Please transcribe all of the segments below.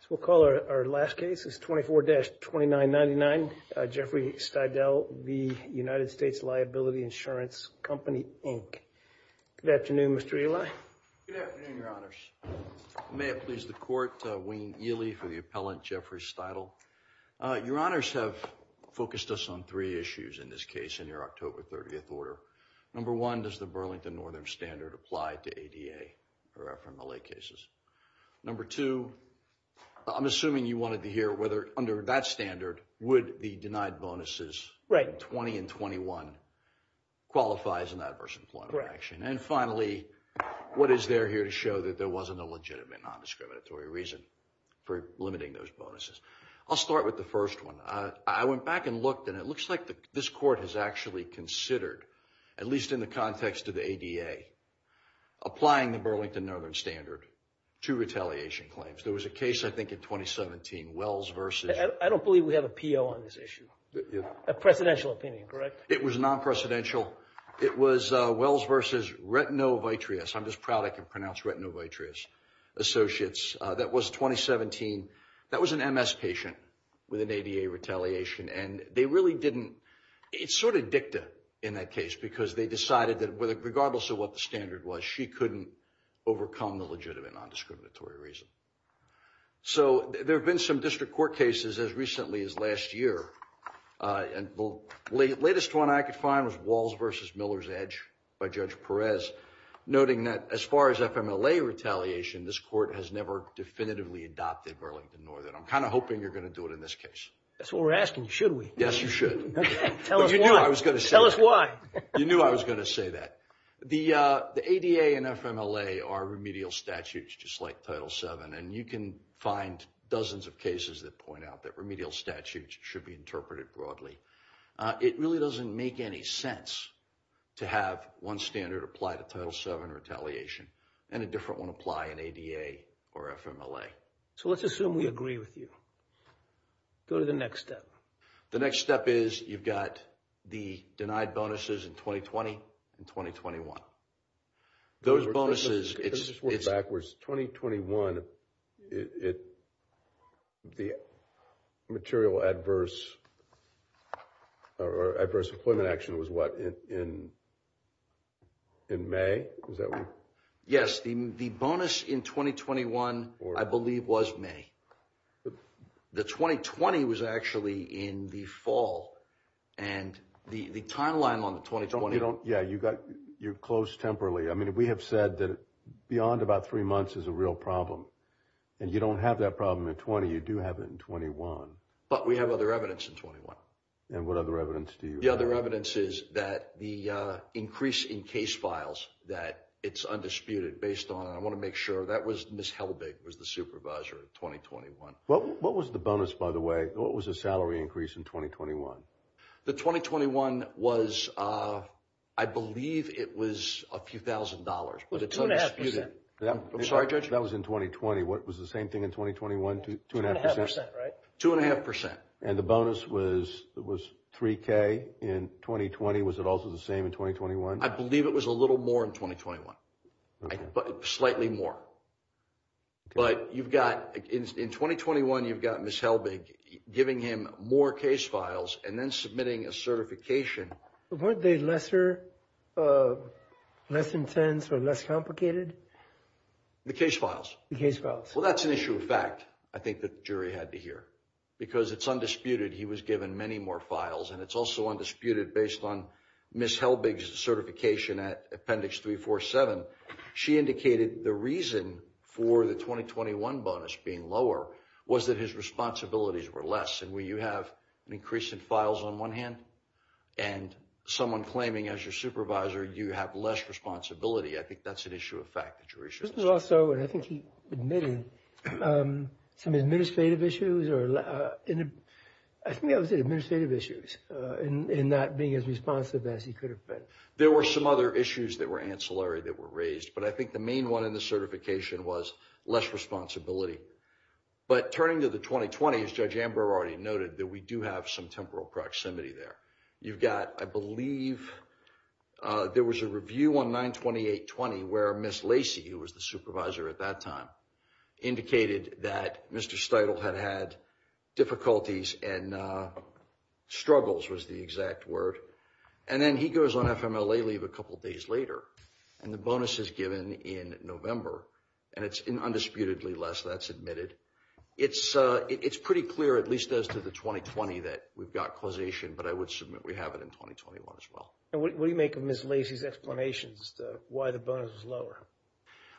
So we'll call our last case, it's 24-2999, Jeffrey Steidle v. USLiabilityInsuranceCompanyInc. Good afternoon, Mr. Eli. Good afternoon, your honors. May it please the court, Wayne Ely for the appellant, Jeffrey Steidle. Your honors have focused us on three issues in this case in your October 30th order. Number one, does the Burlington Northern Standard apply to ADA or FMLA cases? Number two, I'm assuming you wanted to hear whether under that standard, would the denied bonuses 20 and 21 qualify as an adverse employment action? And finally, what is there here to show that there wasn't a legitimate non-discriminatory reason for limiting those bonuses? I'll start with the first one. I went back and looked and it looks like this court has actually considered, at least in the context of the ADA, applying the Burlington Northern Standard to retaliation claims. There was a case, I think, in 2017, Wells v. I don't believe we have a PO on this issue. A presidential opinion, correct? It was non-presidential. It was Wells v. Retinovitreous. I'm just proud I can pronounce Retinovitreous Associates. That was 2017. That was an MS patient with an ADA retaliation and they really didn't, it's sort of dicta in that case because they decided that regardless of what the standard was, she couldn't overcome the legitimate non-discriminatory reason. So there have been some district court cases as recently as last year. And the latest one I could find was Walls v. Miller's Edge by Judge Perez, noting that as far as FMLA retaliation, this court has never definitively adopted Burlington Northern. I'm kind of hoping you're going to do it in this case. That's what we're asking. Should we? Yes, you should. Tell us why. I was going to say. Tell us why. You knew I was going to say that. The ADA and FMLA are remedial statutes just like Title VII, and you can find dozens of cases that point out that remedial statutes should be interpreted broadly. It really doesn't make any sense to have one standard apply to Title VII retaliation and a different one apply in ADA or FMLA. So let's assume we agree with you. Go to the next step. The next step is you've got the denied bonuses in 2020 and 2021. Those bonuses... Let's just work backwards. 2021, the material adverse employment action was what, in May? Yes, the bonus in 2021, I believe, was May. But the 2020 was actually in the fall, and the timeline on the 2020... You don't... Yeah, you got... You're close temporally. I mean, we have said that beyond about three months is a real problem, and you don't have that problem in 20. You do have it in 21. But we have other evidence in 21. And what other evidence do you have? The other evidence is that the increase in case files, that it's undisputed based on... Ms. Helbig was the supervisor in 2021. What was the bonus, by the way? What was the salary increase in 2021? The 2021 was... I believe it was a few thousand dollars, but it's undisputed. I'm sorry, Judge? That was in 2020. What was the same thing in 2021? Two and a half percent? Two and a half percent, right? Two and a half percent. And the bonus was 3K in 2020. Was it also the same in 2021? I believe it was a little more in 2021. Slightly more. But you've got... In 2021, you've got Ms. Helbig giving him more case files and then submitting a certification. Weren't they lesser, less intense or less complicated? The case files. The case files. Well, that's an issue of fact, I think the jury had to hear. Because it's undisputed, he was given many more files. And it's also undisputed based on Ms. Helbig's certification at Appendix 347. She indicated the reason for the 2021 bonus being lower was that his responsibilities were less. And when you have an increase in files on one hand, and someone claiming as your supervisor, you have less responsibility, I think that's an issue of fact. This was also, and I think he admitted, some administrative issues or... I think I would say administrative issues in not being as responsive as he could have been. There were some other issues that were ancillary that were raised. But I think the main one in the certification was less responsibility. But turning to the 2020, as Judge Ambrose already noted, that we do have some temporal proximity there. You've got, I believe, there was a review on 92820 where Ms. Lacey, who was the supervisor at that time, indicated that Mr. Steudle had had difficulties and struggles, was the exact word. And then he goes on FMLA leave a couple of days later. And the bonus is given in November. And it's undisputedly less, that's admitted. It's pretty clear, at least as to the 2020, that we've got causation. But I would submit we have it in 2021 as well. And what do you make of Ms. Lacey's explanations as to why the bonus is lower?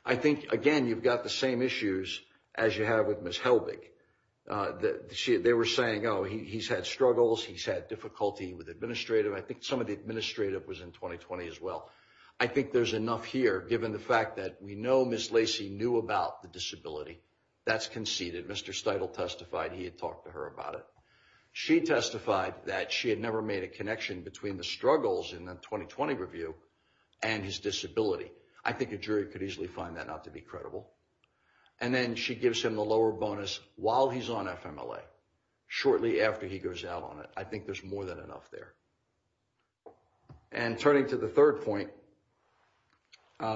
I think, again, you've got the same issues as you have with Ms. Helbig. They were saying, oh, he's had struggles, he's had difficulty with administrative. I think some of the administrative was in 2020 as well. I think there's enough here, given the fact that we know Ms. Lacey knew about the disability. That's conceded. Mr. Steudle testified he had talked to her about it. She testified that she had never made a connection between the struggles in the review and his disability. I think a jury could easily find that not to be credible. And then she gives him the lower bonus while he's on FMLA, shortly after he goes out on it. I think there's more than enough there. And turning to the third point,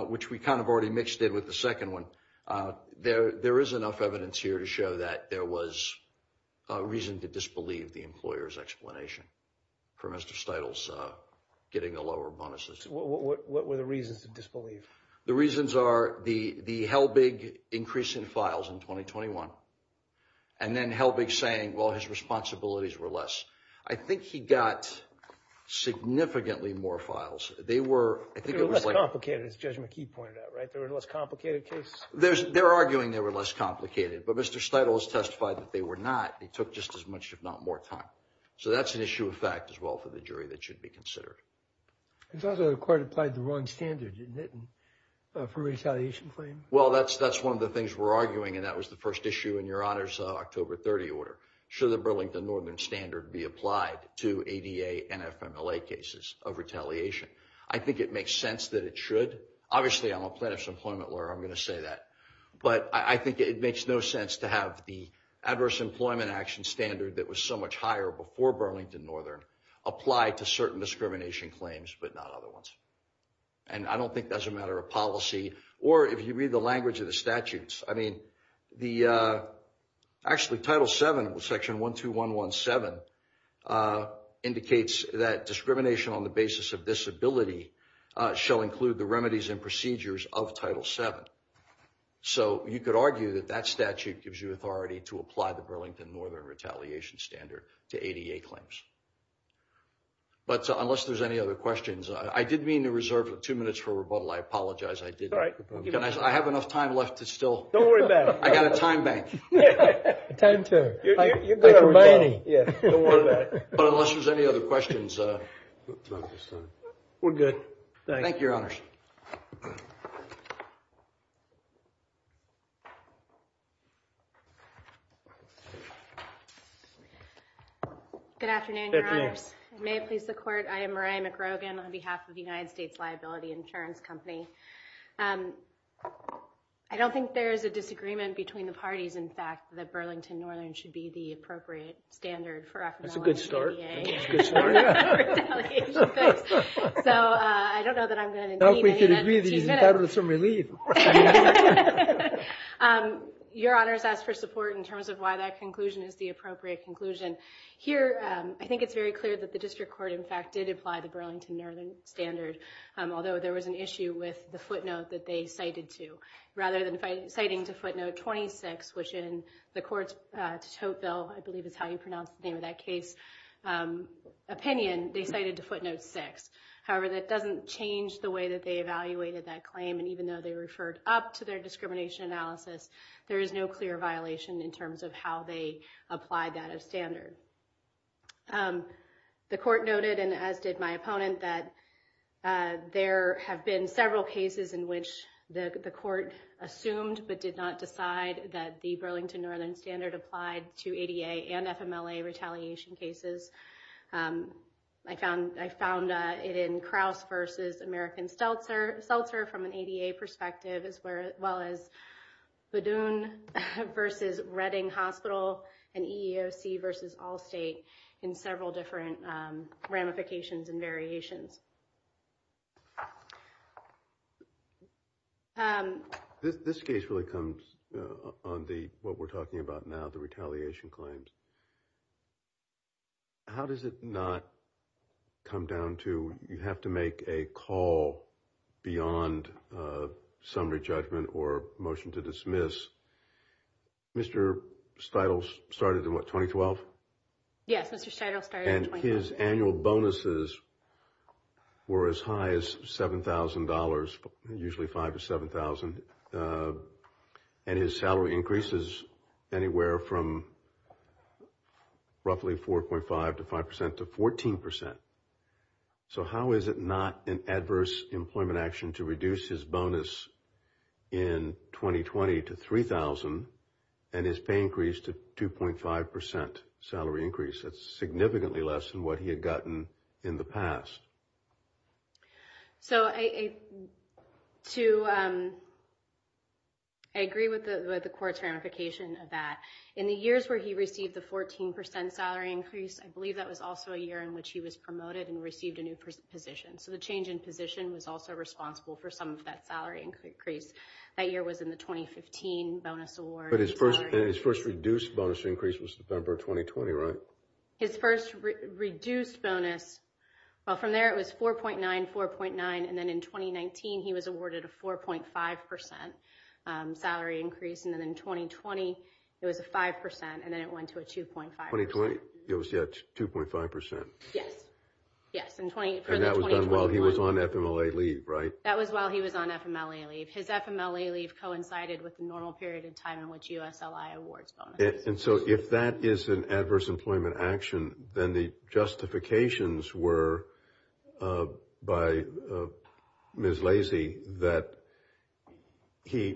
which we kind of already mixed in with the second one, there is enough evidence here to show that there was a reason to disbelieve the employer's explanation for Mr. Steudle's getting the lower bonuses. What were the reasons to disbelieve? The reasons are the Helbig increase in files in 2021, and then Helbig saying, well, his responsibilities were less. I think he got significantly more files. They were less complicated, as Judge McKee pointed out, right? There were less complicated cases? They're arguing they were less complicated, but Mr. Steudle has testified that they were not. They took just as much, if not more, time. So that's an issue of fact, as well, for the jury that should be considered. It's also the court applied the wrong standard, didn't it, for retaliation claims? Well, that's one of the things we're arguing, and that was the first issue in Your Honor's October 30 order. Should the Burlington Northern standard be applied to ADA and FMLA cases of retaliation? I think it makes sense that it should. Obviously, I'm a plaintiff's employment lawyer. I'm going to say that. But I think it makes no sense to have the adverse employment action standard that was so much higher before Burlington Northern apply to certain discrimination claims, but not other ones. I don't think that's a matter of policy, or if you read the language of the statutes. I mean, actually, Title VII, Section 12117, indicates that discrimination on the basis of disability shall include the remedies and procedures of Title VII. So you could argue that that statute gives you authority to apply the Burlington Northern retaliation standard to ADA claims. But unless there's any other questions, I did mean to reserve two minutes for rebuttal. I apologize. I did. I have enough time left to still... Don't worry about it. I got a time bank. Time to... But unless there's any other questions... We're good. Thank you, Your Honors. Good afternoon, Your Honors. May it please the Court, I am Maria McGrogan on behalf of the United States Liability Insurance Company. I don't think there is a disagreement between the parties, in fact, that Burlington Northern should be the appropriate standard for... That's a good start. ...for a retaliation fix. So I don't know that I'm going to... I hope we can agree that he's entitled to some relief. Your Honors asked for support in terms of why that conclusion is the appropriate conclusion. Here, I think it's very clear that the District Court, in fact, did apply the Burlington Northern standard, although there was an issue with the footnote that they cited to. Rather than citing to footnote 26, which in the Court's tote bill, I believe is how you call it, opinion, they cited to footnote 6. However, that doesn't change the way that they evaluated that claim. And even though they referred up to their discrimination analysis, there is no clear violation in terms of how they applied that as standard. The Court noted, and as did my opponent, that there have been several cases in which the Court assumed but did not decide that the Burlington Northern standard applied to ADA and FMLA retaliation cases. I found it in Crouse v. American Stelzer from an ADA perspective, as well as Badoon v. Redding Hospital and EEOC v. Allstate in several different ramifications and variations. This case really comes on what we're talking about now, the retaliation claims. How does it not come down to you have to make a call beyond summary judgment or motion to dismiss? Mr. Steitl started in what, 2012? Yes, Mr. Steitl started in 2012. His annual bonuses were as high as $7,000, usually $5,000 to $7,000. And his salary increases anywhere from roughly 4.5 to 5% to 14%. So how is it not an adverse employment action to reduce his bonus in 2020 to $3,000 and his pay increase to 2.5% salary increase? That's significantly less than what he had gotten in the past. I agree with the Court's ramification of that. In the years where he received the 14% salary increase, I believe that was also a year in which he was promoted and received a new position. So the change in position was also responsible for some of that salary increase. That year was in the 2015 bonus award. But his first reduced bonus increase was September 2020, right? His first reduced bonus, well, from there, it was 4.9, 4.9. And then in 2019, he was awarded a 4.5% salary increase. And then in 2020, it was a 5%, and then it went to a 2.5%. 2020, it was, yeah, 2.5%. Yes, yes. And that was done while he was on FMLA leave, right? That was while he was on FMLA leave. His FMLA leave coincided with the normal period of time in which USLI awards bonus. And so if that is an adverse employment action, then the justifications were by Ms. Lacey that he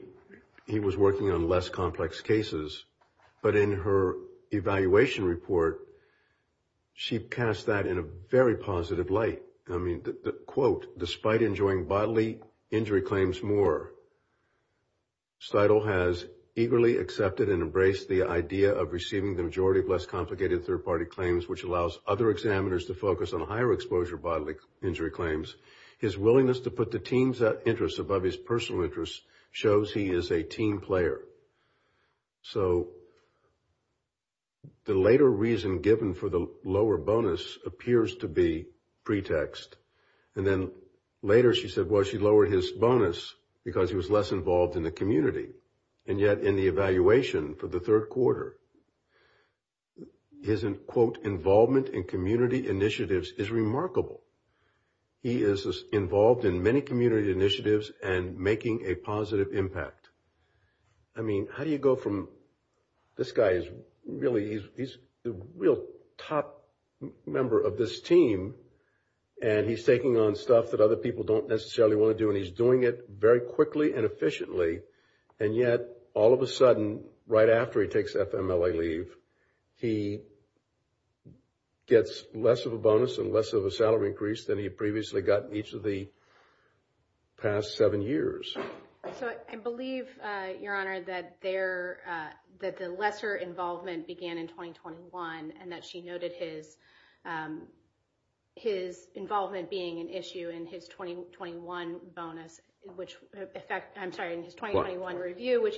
was working on less complex cases. But in her evaluation report, she cast that in a very positive light. I mean, the quote, despite enjoying bodily injury claims more, Steudle has eagerly accepted and embraced the idea of receiving the majority of less complicated third-party claims, which allows other examiners to focus on higher exposure bodily injury claims. His willingness to put the team's interests above his personal interests shows he is a team player. So the later reason given for the lower bonus appears to be pretext. And then later she said, well, she lowered his bonus because he was less involved in the community. And yet in the evaluation for the third quarter, his, quote, involvement in community initiatives is remarkable. He is involved in many community initiatives and making a positive impact. I mean, how do you go from this guy is really he's the real top member of this team and he's taking on stuff that other people don't necessarily want to do, and he's doing it very quickly and efficiently. And yet, all of a sudden, right after he takes FMLA leave, he gets less of a bonus and less of a salary increase than he previously got in each of the past seven years. So I believe, Your Honor, that the lesser involvement began in 2021 and that she noted his involvement being an issue in his 2021 bonus, which, in fact, I'm sorry, in his 2021 review.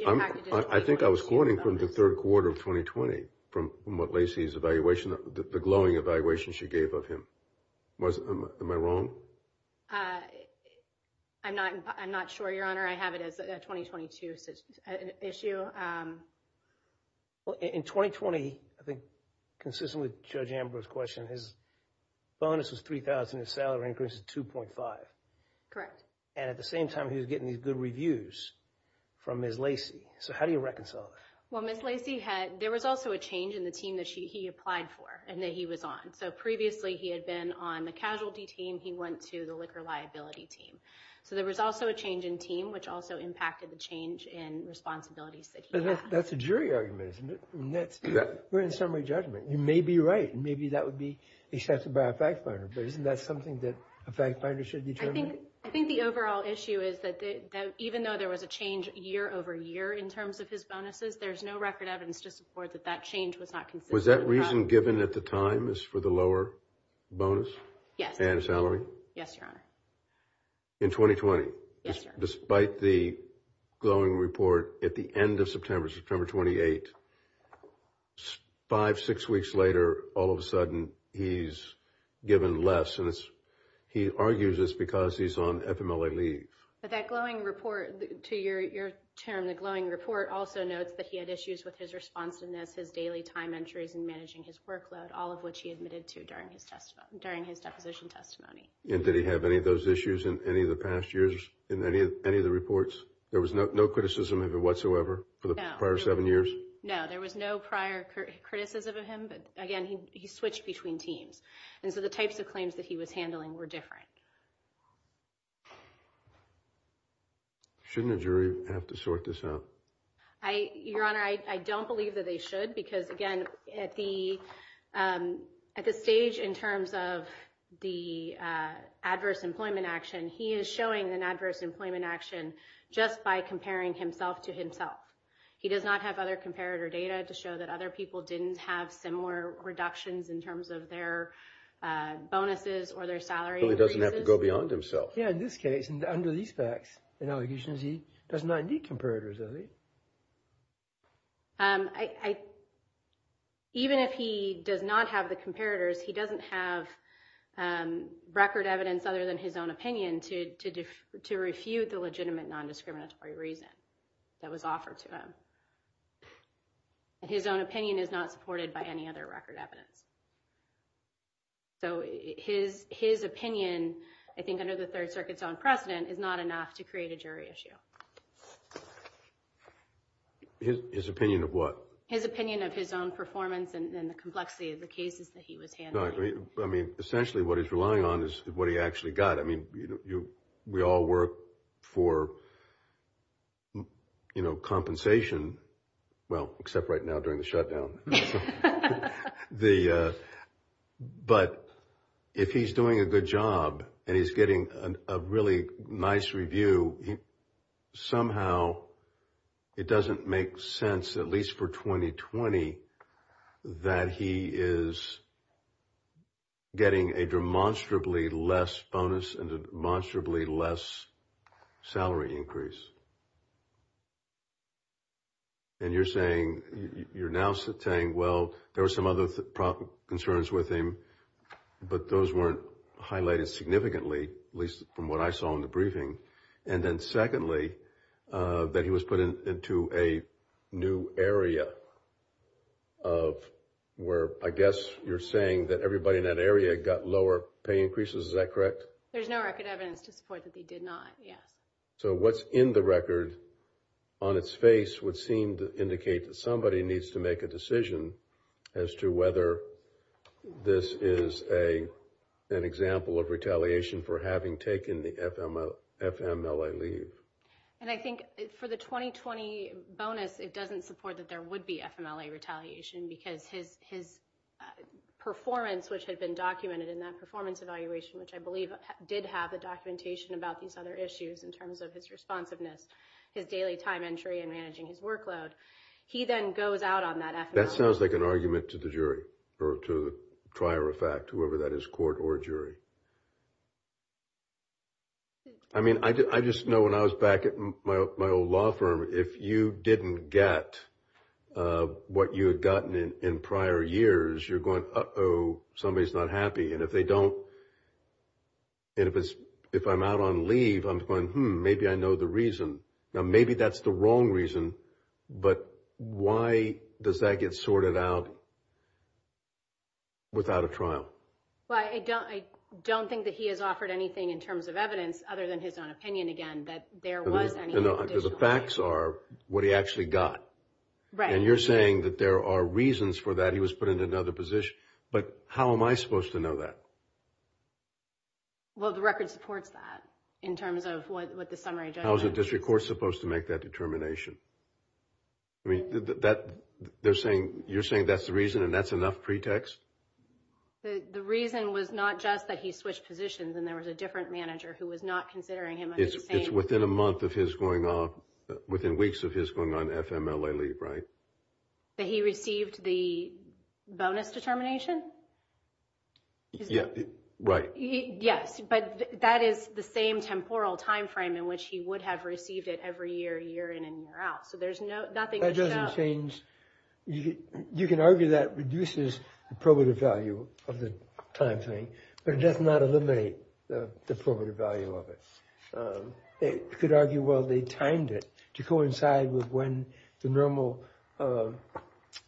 I think I was floating from the third quarter of 2020 from what Lacey's evaluation, the glowing evaluation she gave of him. Am I wrong? Uh, I'm not, I'm not sure, Your Honor. I have it as a 2022 issue. Well, in 2020, I think, consistent with Judge Amber's question, his bonus was $3,000, his salary increase is $2.5. Correct. And at the same time, he was getting these good reviews from Ms. Lacey. So how do you reconcile that? Well, Ms. Lacey had, there was also a change in the team that she, he applied for and that he was on. So previously he had been on the casualty team. He went to the liquor liability team. So there was also a change in team, which also impacted the change in responsibilities that he had. That's a jury argument, isn't it? We're in summary judgment. You may be right. Maybe that would be accepted by a fact finder. But isn't that something that a fact finder should determine? I think the overall issue is that, even though there was a change year over year in terms of his bonuses, there's no record evidence to support that that change was not considered. Was that reason given at the time is for the lower bonus? Yes. And salary? Yes, Your Honor. In 2020? Yes, Your Honor. Despite the glowing report at the end of September, September 28, five, six weeks later, all of a sudden he's given less. And he argues this because he's on FMLA leave. But that glowing report to your term, the glowing report also notes that he had issues with his responsiveness, his daily time entries and managing his workload, all of which he admitted to during his deposition testimony. And did he have any of those issues in any of the past years in any of the reports? There was no criticism of it whatsoever for the prior seven years? No, there was no prior criticism of him. But again, he switched between teams. And so the types of claims that he was handling were different. Shouldn't a jury have to sort this out? Your Honor, I don't believe that they should. Because again, at the stage in terms of the adverse employment action, he is showing an adverse employment action just by comparing himself to himself. He does not have other comparator data to show that other people didn't have similar reductions in terms of their bonuses or their salary increases. So he doesn't have to go beyond himself. Yeah, in this case, under these facts, he doesn't need comparators, does he? Even if he does not have the comparators, he doesn't have record evidence other than his own opinion to refute the legitimate non-discriminatory reason that was offered to him. And his own opinion is not supported by any other record evidence. So his opinion, I think under the Third Circuit's own precedent, is not enough to create a jury issue. His opinion of what? His opinion of his own performance and the complexity of the cases that he was handling. I mean, essentially what he's relying on is what he actually got. I mean, we all work for, you know, compensation. Well, except right now during the shutdown. But if he's doing a good job and he's getting a really nice review, somehow it doesn't make sense, at least for 2020, that he is getting a demonstrably less bonus and a demonstrably less salary increase. And you're saying, you're now saying, well, there were some other concerns with him, but those weren't highlighted significantly, at least from what I saw in the briefing. And then secondly, that he was put into a new area of where, I guess you're saying that everybody in that area got lower pay increases, is that correct? There's no record evidence to support that they did not, yes. So what's in the record on its face would seem to indicate that somebody needs to make a decision as to whether this is an example of retaliation for having taken the FMLA leave. And I think for the 2020 bonus, it doesn't support that there would be FMLA retaliation because his performance, which had been documented in that performance evaluation, which I believe did have the documentation about these other issues in terms of his responsiveness, his daily time entry and managing his workload. He then goes out on that FMLA. That sounds like an argument to the jury or to the prior effect, whoever that is, court or jury. I mean, I just know when I was back at my old law firm, if you didn't get what you had gotten in prior years, you're going, uh-oh, somebody's not happy. And if they don't, and if I'm out on leave, I'm going, hmm, maybe I know the reason. Now, maybe that's the wrong reason. But why does that get sorted out without a trial? Well, I don't think that he has offered anything in terms of evidence other than his own opinion, again, that there was any additional reason. The facts are what he actually got. Right. And you're saying that there are reasons for that. He was put in another position. But how am I supposed to know that? Well, the record supports that in terms of what the summary judgment is. How is the district court supposed to make that determination? I mean, you're saying that's the reason and that's enough pretext? The reason was not just that he switched positions and there was a different manager who was not considering him. I'm just saying. It's within a month of his going on, within weeks of his going on FMLA leave, right? That he received the bonus determination? Yeah, right. Yes, but that is the same temporal time frame in which he would have received it every year, year in and year out. So there's nothing to show. That doesn't change. You can argue that reduces the probative value of the time frame, but it does not eliminate the probative value of it. They could argue, well, they timed it to coincide with when the normal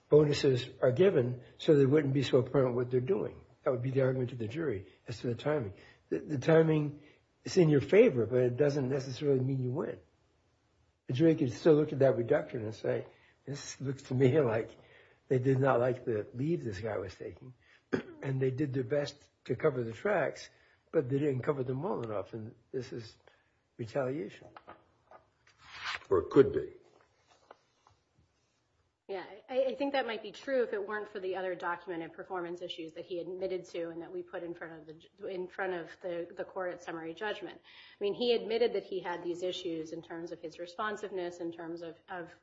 bonuses are given so they wouldn't be so apparent what they're doing. That would be the argument to the jury as to the timing. The timing is in your favor, but it doesn't necessarily mean you win. The jury could still look at that reduction and say, this looks to me like they did not like the leave this guy was taking. And they did their best to cover the tracks, but they didn't cover them well enough. And this is retaliation. Or it could be. Yeah, I think that might be true if it weren't for the other document and performance issues that he admitted to and that we put in front of the court at summary judgment. I mean, he admitted that he had these issues in terms of his responsiveness, in terms of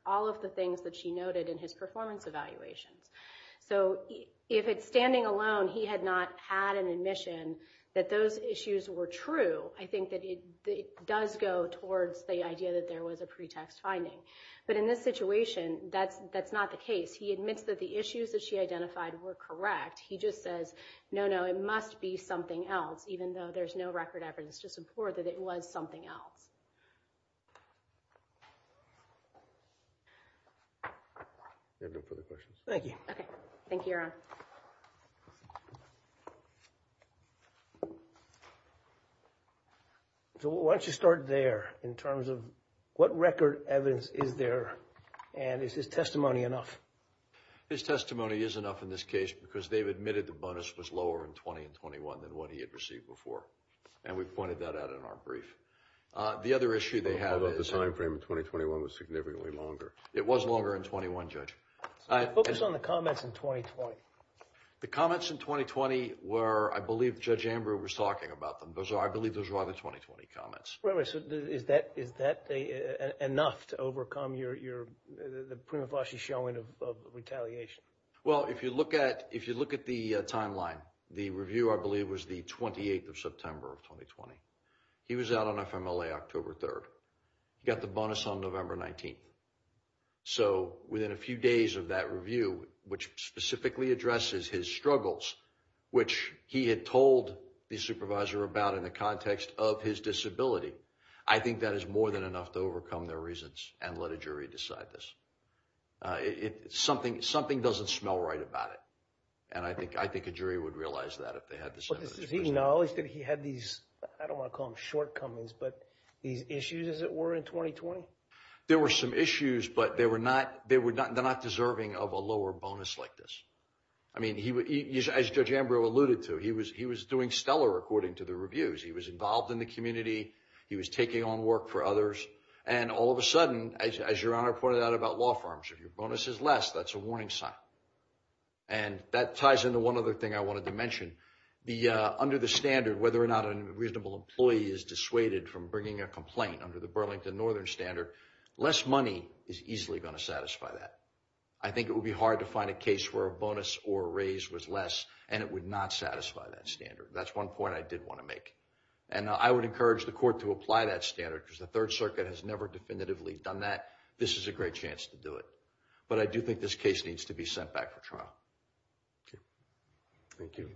all of the things that she noted in his performance evaluations. So if it's standing alone, he had not had an admission that those issues were true. I think that it does go towards the idea that there was a pretext finding. But in this situation, that's not the case. He admits that the issues that she identified were correct. He just says, no, no, it must be something else, even though there's no record evidence to support that it was something else. You have no further questions? Thank you. OK, thank you, Your Honor. So why don't you start there in terms of what record evidence is there? And is his testimony enough? His testimony is enough in this case because they've admitted the bonus was lower in 20 and 21 than what he had received before. And we've pointed that out in our brief. The other issue they have about the time frame in 2021 was significantly longer. It was longer in 21, Judge. Focus on the comments in 2020. The comments in 2020 were, I believe, Judge Ambrose was talking about them. Those are, I believe, those are all the 2020 comments. Right, so is that enough to overcome the prima facie showing of retaliation? Well, if you look at if you look at the timeline, the review, I believe, was the 28th of September of 2020. He was out on FMLA October 3rd, got the bonus on November 19th. So within a few days of that review, which specifically addresses his struggles, which he had told the supervisor about in the context of his disability, I think that is more than enough to overcome their reasons and let a jury decide this. It's something something doesn't smell right about it. And I think I think a jury would realize that if they had this knowledge that he had these, I don't want to call them shortcomings, but these issues, as it were, in 2020. There were some issues, but they were not. They were not. They're not deserving of a lower bonus like this. I mean, he was, as Judge Ambrose alluded to, he was he was doing stellar according to the reviews. He was involved in the community. He was taking on work for others. And all of a sudden, as your honor pointed out about law firms, if your bonus is less, that's a warning sign. And that ties into one other thing I wanted to mention. Under the standard, whether or not a reasonable employee is dissuaded from bringing a complaint under the Burlington Northern Standard, less money is easily going to satisfy that. I think it would be hard to find a case where a bonus or a raise was less, and it would not satisfy that standard. That's one point I did want to make. And I would encourage the court to apply that standard, because the Third Circuit has never definitively done that. This is a great chance to do it. But I do think this case needs to be sent back for trial. Thank you.